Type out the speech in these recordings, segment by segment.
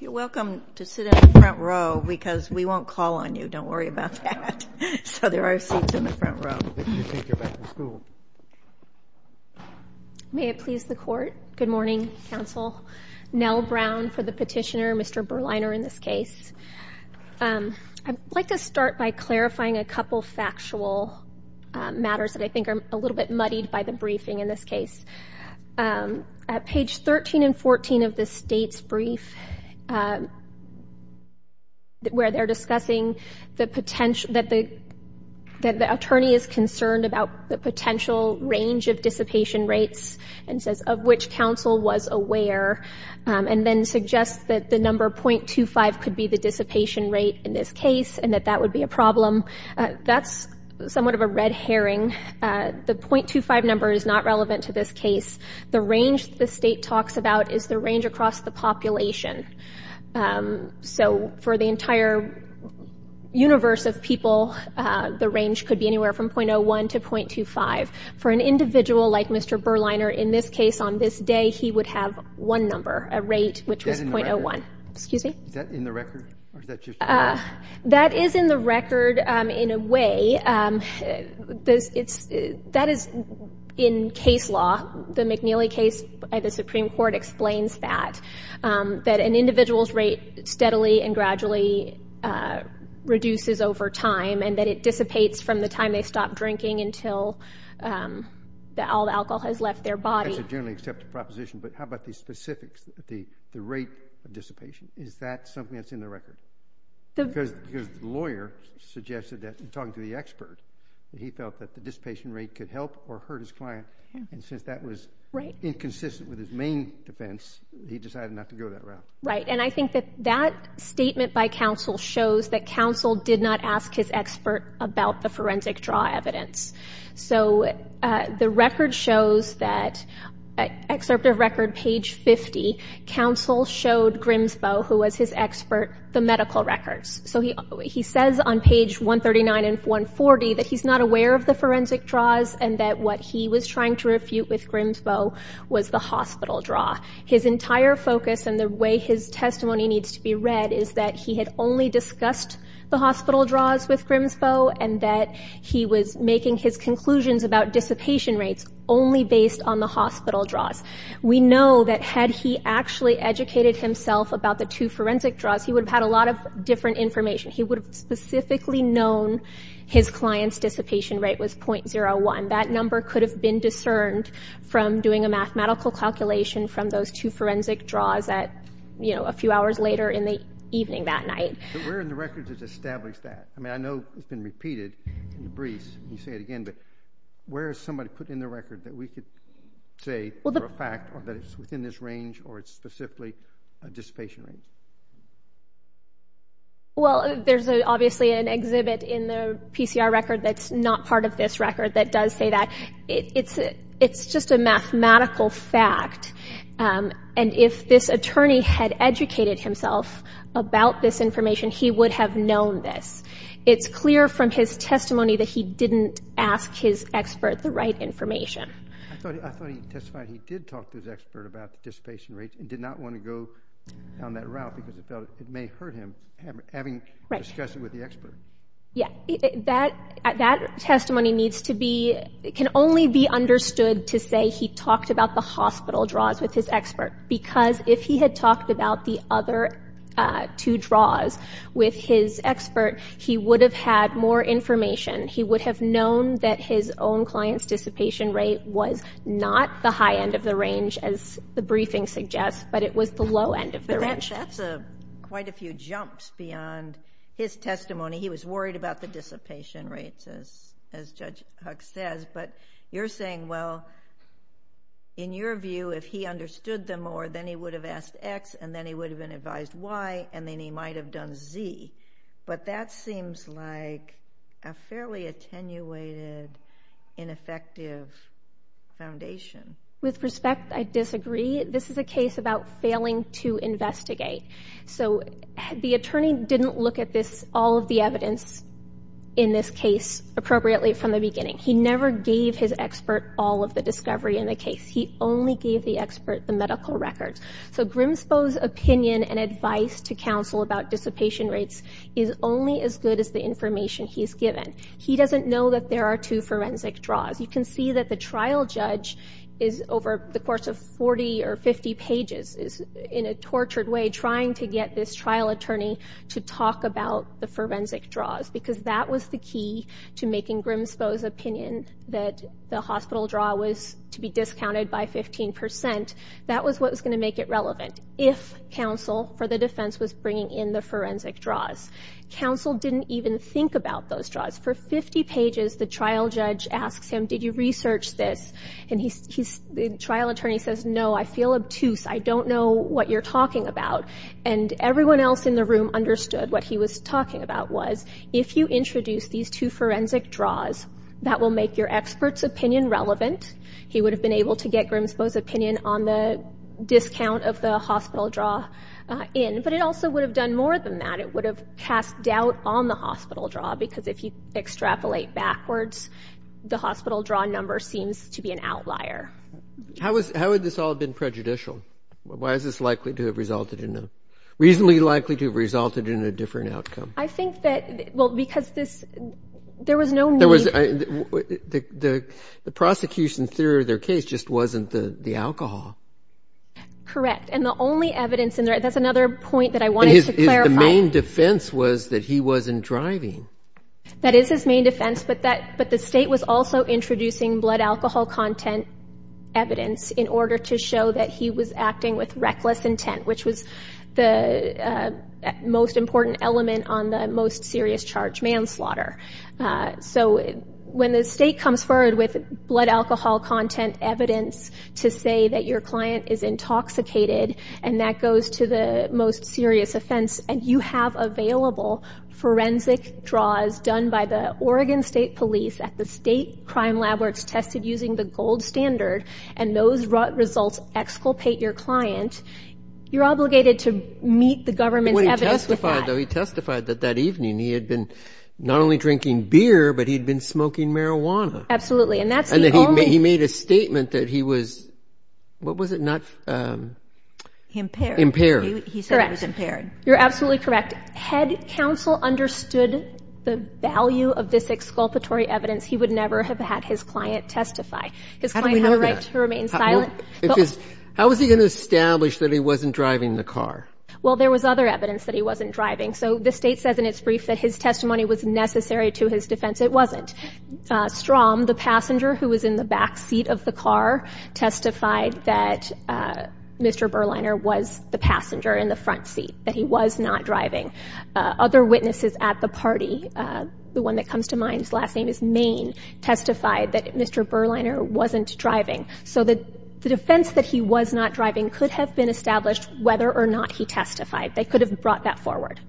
You're welcome to sit in the front row because we won't call on you, don't worry about that. So there are seats in the front row. I think you're back in school. May it please the Court. Good morning, Counsel. Nell Brown for the petitioner, Mr. Berliner in this case. I'd like to start by clarifying a couple factual matters that I think are a little bit muddied by the briefing in this case. At page 13 and 14 of the State's brief where they're discussing that the attorney is concerned about the potential range of dissipation rates and says of which counsel was aware and then suggests that the number .25 could be the dissipation rate in this case and that that would be a problem. That's somewhat of a red herring. The .25 number is not relevant to this case. The range the State talks about is the range across the population. So for the entire universe of people, the range could be anywhere from .01 to .25. For an individual like Mr. Berliner in this case on this day, he would have one number, a rate which was .01. Is that in the record? That is in the record in a way. That is in case law. The McNeely case by the Supreme Court explains that, that an individual's rate steadily and gradually reduces over time and that it dissipates from the time they stop drinking until all the alcohol has left their body. That's a generally accepted proposition, but how about the specifics, the rate of dissipation? Is that something that's in the record? Because the lawyer suggested that in talking to the expert, that he felt that the dissipation rate could help or hurt his client, and since that was inconsistent with his main defense, he decided not to go that route. Right, and I think that that statement by counsel shows that counsel did not ask his expert about the forensic draw evidence. So the record shows that, excerpt of record page 50, counsel showed Grimsboe, who was his expert, the medical records. So he says on page 139 and 140 that he's not aware of the forensic draws and that what he was trying to refute with Grimsboe was the hospital draw. His entire focus and the way his testimony needs to be read is that he had only discussed the hospital draws with Grimsboe and that he was making his conclusions about dissipation rates only based on the hospital draws. We know that had he actually educated himself about the two forensic draws, he would have had a lot of different information. He would have specifically known his client's dissipation rate was .01. That number could have been discerned from doing a mathematical calculation from those two forensic draws at, you know, a few hours later in the evening that night. But where in the records is established that? I mean, I know it's been repeated in the briefs, and you say it again, but where is somebody putting in the record that we could say for a fact that it's within this range or it's specifically a dissipation rate? Well, there's obviously an exhibit in the PCR record that's not part of this record that does say that. It's just a mathematical fact. And if this attorney had educated himself about this information, he would have known this. It's clear from his testimony that he didn't ask his expert the right information. I thought he testified he did talk to his expert about dissipation rates and did not want to go down that route because it felt it may hurt him having discussed it with the expert. Yeah. That testimony needs to be, can only be understood to say he talked about the hospital draws with his expert because if he had talked about the other two draws with his expert, he would have had more information. He would have known that his own client's dissipation rate was not the high end of the range, as the briefing suggests, but it was the low end of the range. That's quite a few jumps beyond his testimony. He was worried about the dissipation rates, as Judge Huck says. But you're saying, well, in your view, if he understood them more, then he would have asked X and then he would have been advised Y and then he might have done Z. But that seems like a fairly attenuated, ineffective foundation. With respect, I disagree. This is a case about failing to investigate. So the attorney didn't look at all of the evidence in this case appropriately from the beginning. He never gave his expert all of the discovery in the case. He only gave the expert the medical records. So Grimsboe's opinion and advice to counsel about dissipation rates is only as good as the information he's given. He doesn't know that there are two forensic draws. You can see that the trial judge is, over the course of 40 or 50 pages, is in a tortured way trying to get this trial attorney to talk about the forensic draws because that was the key to making Grimsboe's opinion that the hospital draw was to be discounted by 15 percent. That was what was going to make it relevant if counsel for the defense was bringing in the forensic draws. Counsel didn't even think about those draws. For 50 pages, the trial judge asks him, did you research this? And the trial attorney says, no, I feel obtuse. I don't know what you're talking about. And everyone else in the room understood what he was talking about was, if you introduce these two forensic draws, that will make your expert's opinion relevant. He would have been able to get Grimsboe's opinion on the discount of the hospital draw in. But it also would have done more than that. It would have cast doubt on the hospital draw because if you extrapolate backwards, the hospital draw number seems to be an outlier. How would this all have been prejudicial? Why is this likely to have resulted in a ñ reasonably likely to have resulted in a different outcome? I think that ñ well, because this ñ there was no need. The prosecution's theory of their case just wasn't the alcohol. Correct. And the only evidence in there ñ that's another point that I wanted to clarify. The main defense was that he wasn't driving. That is his main defense, but the state was also introducing blood alcohol content evidence in order to show that he was acting with reckless intent, which was the most important element on the most serious charge, manslaughter. So when the state comes forward with blood alcohol content evidence to say that your client is intoxicated, and that goes to the most serious offense, and you have available forensic draws done by the Oregon State Police at the state crime lab where it's tested using the gold standard, and those results exculpate your client, you're obligated to meet the government's evidence with that. Well, he testified, though. He testified that that evening he had been not only drinking beer, but he'd been smoking marijuana. Absolutely. And that's the only ñ Impaired. Impaired. Correct. He said he was impaired. You're absolutely correct. Had counsel understood the value of this exculpatory evidence, he would never have had his client testify. How do we know that? His client had a right to remain silent. How is he going to establish that he wasn't driving the car? Well, there was other evidence that he wasn't driving. So the state says in its brief that his testimony was necessary to his defense. It wasn't. Strom, the passenger who was in the back seat of the car, testified that Mr. Berliner was the passenger in the front seat, that he was not driving. Other witnesses at the party, the one that comes to mind, his last name is Main, testified that Mr. Berliner wasn't driving. So the defense that he was not driving could have been established whether or not he testified. They could have brought that forward.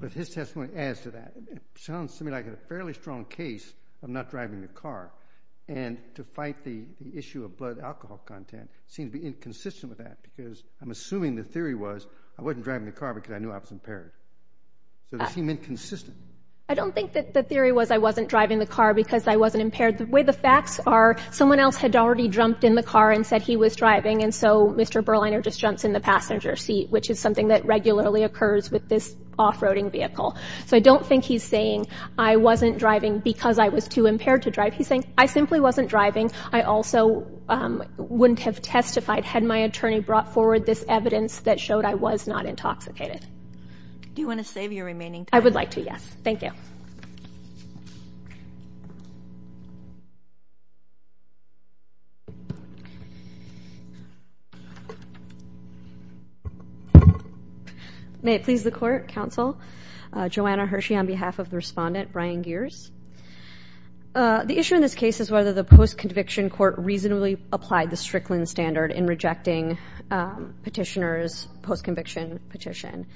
But his testimony adds to that. It sounds to me like a fairly strong case of not driving the car. And to fight the issue of blood alcohol content seems to be inconsistent with that because I'm assuming the theory was I wasn't driving the car because I knew I was impaired. So they seem inconsistent. I don't think that the theory was I wasn't driving the car because I wasn't impaired. The way the facts are, someone else had already jumped in the car and said he was driving, and so Mr. Berliner just jumps in the passenger seat, which is something that regularly occurs with this off-roading vehicle. So I don't think he's saying I wasn't driving because I was too impaired to drive. He's saying I simply wasn't driving. I also wouldn't have testified had my attorney brought forward this evidence that showed I was not intoxicated. Do you want to save your remaining time? I would like to, yes. Thank you. May it please the Court, Counsel. Joanna Hershey on behalf of the Respondent, Brian Gears. The issue in this case is whether the post-conviction court reasonably applied the Strickland standard in rejecting Petitioner's post-conviction petition.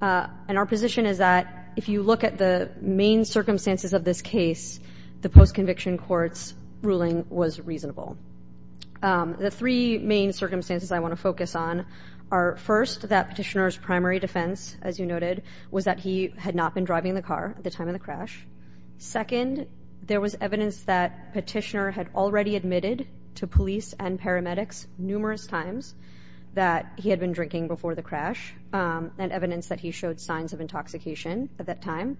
And our position is that if you look at the main circumstances of this case, the post-conviction court's ruling was reasonable. The three main circumstances I want to focus on are, first, that Petitioner's primary defense, as you noted, was that he had not been driving the car at the time of the crash. Second, there was evidence that Petitioner had already admitted to police and paramedics numerous times that he had been drinking before the crash and evidence that he showed signs of intoxication at that time.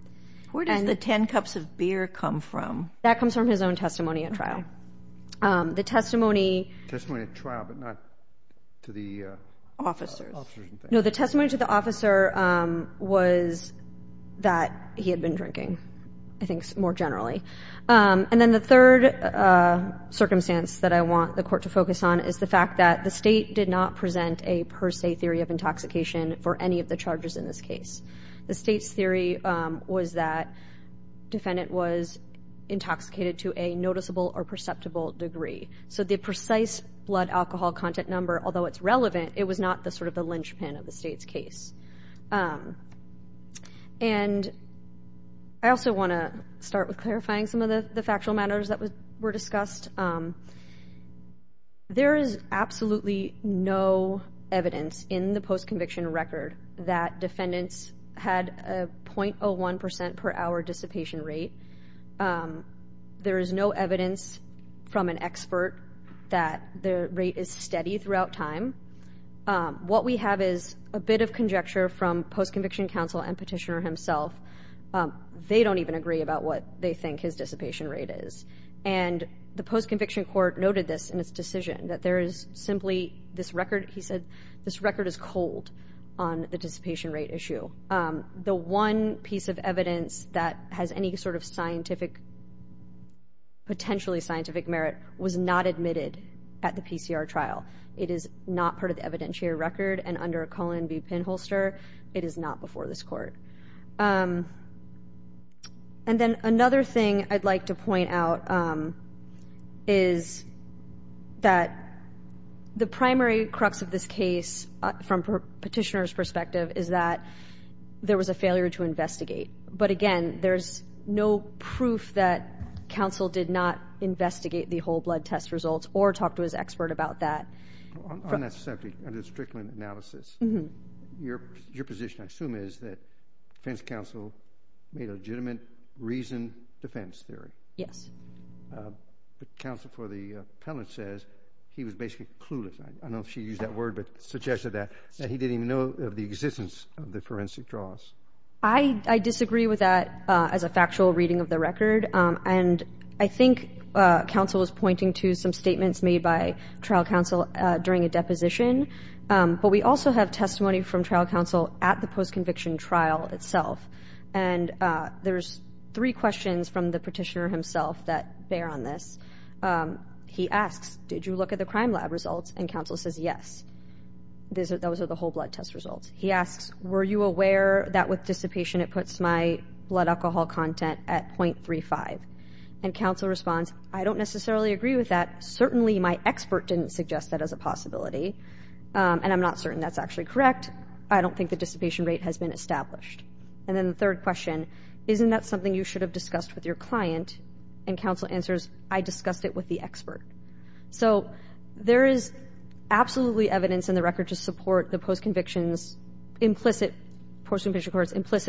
Where does the 10 cups of beer come from? That comes from his own testimony at trial. Okay. The testimony... Testimony at trial, but not to the officers. No, the testimony to the officer was that he had been drinking, I think more generally. And then the third circumstance that I want the Court to focus on is the fact that the State did not present a per se theory of intoxication for any of the charges in this case. The State's theory was that defendant was intoxicated to a noticeable or perceptible degree. So the precise blood alcohol content number, although it's relevant, it was not the sort of the linchpin of the State's case. And I also want to start with clarifying some of the factual matters that were discussed. There is absolutely no evidence in the post-conviction record that defendants had a .01% per hour dissipation rate. There is no evidence from an expert that the rate is steady throughout time. What we have is a bit of conjecture from post-conviction counsel and Petitioner himself. They don't even agree about what they think his dissipation rate is. And the post-conviction court noted this in its decision, that there is simply this record, he said, this record is cold on the dissipation rate issue. The one piece of evidence that has any sort of scientific, potentially scientific merit, was not admitted at the PCR trial. It is not part of the evidentiary record, and under a Cullen v. Pinholster, it is not before this Court. And then another thing I'd like to point out is that the primary crux of this case, from Petitioner's perspective, is that there was a failure to investigate. But again, there is no proof that counsel did not investigate the whole blood test results or talk to his expert about that. On that subject, under the Strickland analysis, your position, I assume, is that defense counsel made legitimate reason defense theory. Yes. The counsel for the appellant says he was basically clueless. I don't know if she used that word, but suggested that, that he didn't even know of the existence of the forensic draws. I disagree with that as a factual reading of the record. And I think counsel was pointing to some statements made by trial counsel during a deposition. But we also have testimony from trial counsel at the post-conviction trial itself. And there's three questions from the petitioner himself that bear on this. He asks, did you look at the crime lab results? And counsel says, yes. Those are the whole blood test results. He asks, were you aware that with dissipation it puts my blood alcohol content at .35? And counsel responds, I don't necessarily agree with that. Certainly my expert didn't suggest that as a possibility. And I'm not certain that's actually correct. I don't think the dissipation rate has been established. And then the third question, isn't that something you should have discussed with your client? And counsel answers, I discussed it with the expert. So there is absolutely evidence in the record to support the post-conviction's implicit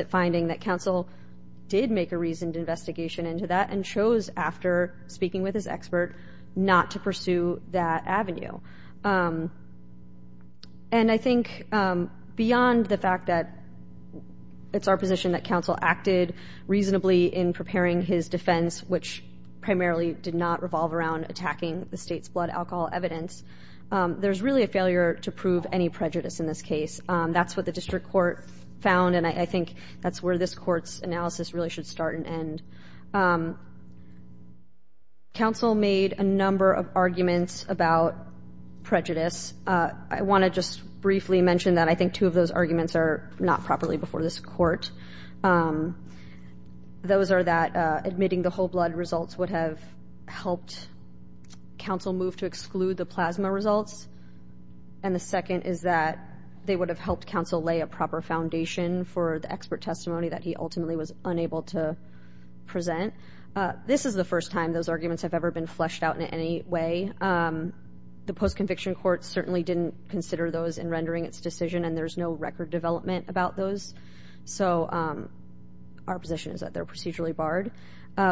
finding that counsel did make a reasoned investigation into that and chose after speaking with his expert not to pursue that avenue. And I think beyond the fact that it's our position that counsel acted reasonably in preparing his defense, which primarily did not revolve around attacking the state's blood alcohol evidence, there's really a failure to prove any prejudice in this case. That's what the district court found, and I think that's where this court's analysis really should start and end. Counsel made a number of arguments about prejudice. I want to just briefly mention that I think two of those arguments are not properly before this court. Those are that admitting the whole blood results would have helped counsel move to exclude the plasma results. And the second is that they would have helped counsel lay a proper foundation for the expert testimony that he ultimately was unable to present. This is the first time those arguments have ever been fleshed out in any way. The post-conviction court certainly didn't consider those in rendering its decision, and there's no record development about those. So our position is that they're procedurally barred,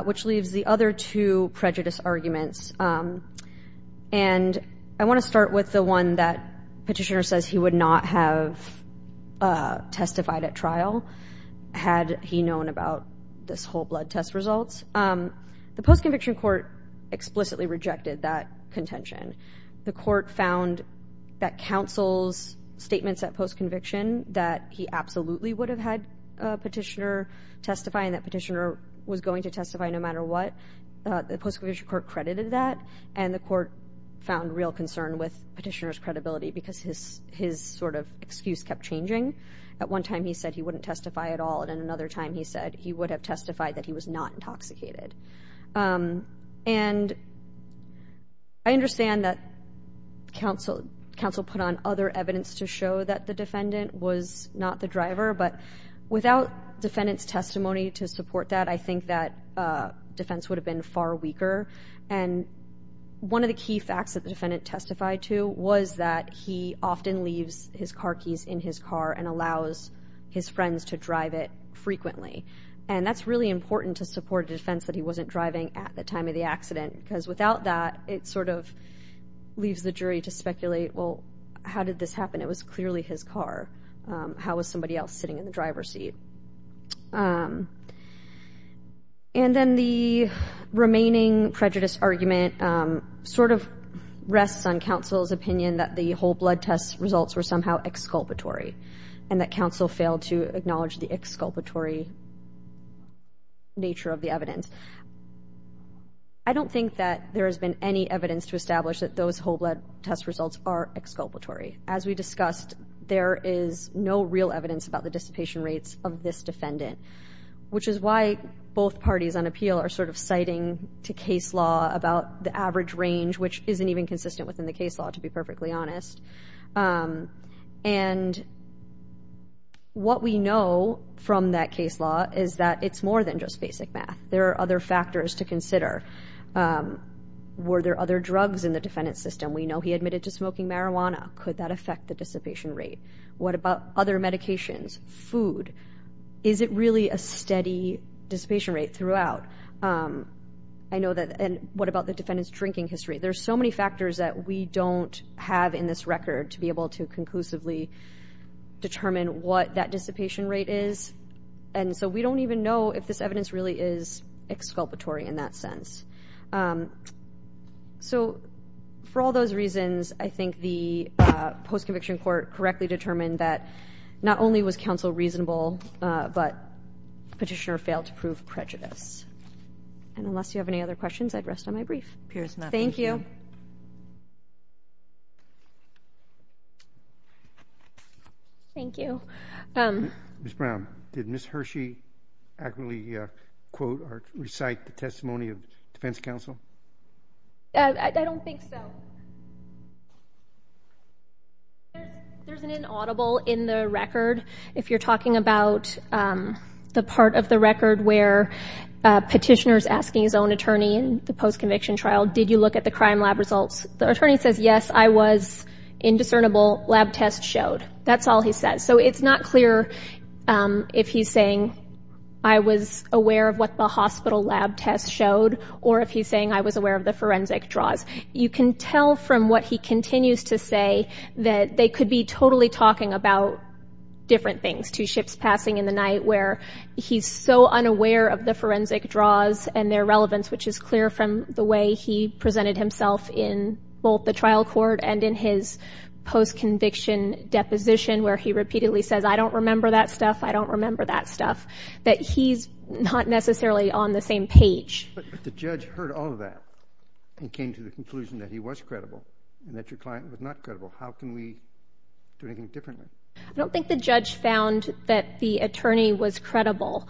which leaves the other two prejudice arguments. And I want to start with the one that Petitioner says he would not have testified at trial had he known about this whole blood test results. The post-conviction court explicitly rejected that contention. The court found that counsel's statements at post-conviction that he absolutely would have had Petitioner testify and that Petitioner was going to testify no matter what, the post-conviction court credited that, and the court found real concern with Petitioner's credibility because his sort of excuse kept changing. At one time he said he wouldn't testify at all, and at another time he said he would have testified that he was not intoxicated. And I understand that counsel put on other evidence to show that the defendant was not the driver, but without defendant's testimony to support that, I think that defense would have been far weaker. And one of the key facts that the defendant testified to was that he often leaves his car keys in his car and allows his friends to drive it frequently, and that's really important to support a defense that he wasn't driving at the time of the accident because without that it sort of leaves the jury to speculate, well, how did this happen? It was clearly his car. How was somebody else sitting in the driver's seat? And then the remaining prejudice argument sort of rests on counsel's opinion that the whole blood test results were somehow exculpatory and that counsel failed to acknowledge the exculpatory nature of the evidence. I don't think that there has been any evidence to establish that those whole blood test results are exculpatory. As we discussed, there is no real evidence about the dissipation rates of this defendant, which is why both parties on appeal are sort of citing to case law about the average range, which isn't even consistent within the case law, to be perfectly honest. And what we know from that case law is that it's more than just basic math. There are other factors to consider. Were there other drugs in the defendant's system? We know he admitted to smoking marijuana. Could that affect the dissipation rate? What about other medications, food? Is it really a steady dissipation rate throughout? And what about the defendant's drinking history? There are so many factors that we don't have in this record to be able to conclusively determine what that dissipation rate is, and so we don't even know if this evidence really is exculpatory in that sense. So for all those reasons, I think the post-conviction court correctly determined that not only was counsel reasonable, but petitioner failed to prove prejudice. And unless you have any other questions, I'd rest on my brief. Thank you. Thank you. Ms. Brown, did Ms. Hershey accurately quote or recite the testimony of defense counsel? I don't think so. There's an inaudible in the record. If you're talking about the part of the record where petitioner's asking his own attorney in the post-conviction trial, did you look at the crime lab results? The attorney says, yes, I was indiscernible. Lab test showed. That's all he says. So it's not clear if he's saying, I was aware of what the hospital lab test showed, or if he's saying, I was aware of the forensic draws. You can tell from what he continues to say that they could be totally talking about different things. There's two ships passing in the night where he's so unaware of the forensic draws and their relevance, which is clear from the way he presented himself in both the trial court and in his post-conviction deposition where he repeatedly says, I don't remember that stuff, I don't remember that stuff, that he's not necessarily on the same page. But the judge heard all of that and came to the conclusion that he was credible and that your client was not credible. How can we do anything differently? I don't think the judge found that the attorney was credible.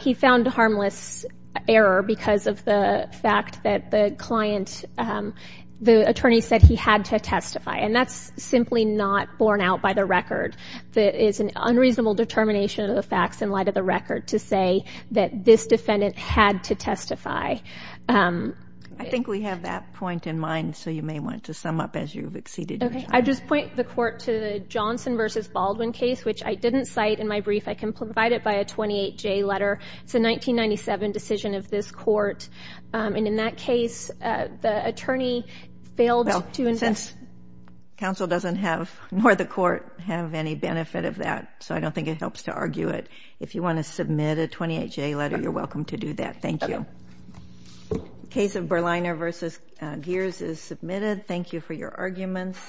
He found harmless error because of the fact that the client, the attorney said he had to testify. And that's simply not borne out by the record. It is an unreasonable determination of the facts in light of the record to say that this defendant had to testify. I think we have that point in mind, so you may want to sum up as you've exceeded your time. I just point the court to the Johnson v. Baldwin case, which I didn't cite in my brief. I can provide it by a 28-J letter. It's a 1997 decision of this court. And in that case, the attorney failed to invest. Well, since counsel doesn't have, nor the court, have any benefit of that, so I don't think it helps to argue it. If you want to submit a 28-J letter, you're welcome to do that. Thank you. Case of Berliner v. Gears is submitted. Thank you for your arguments.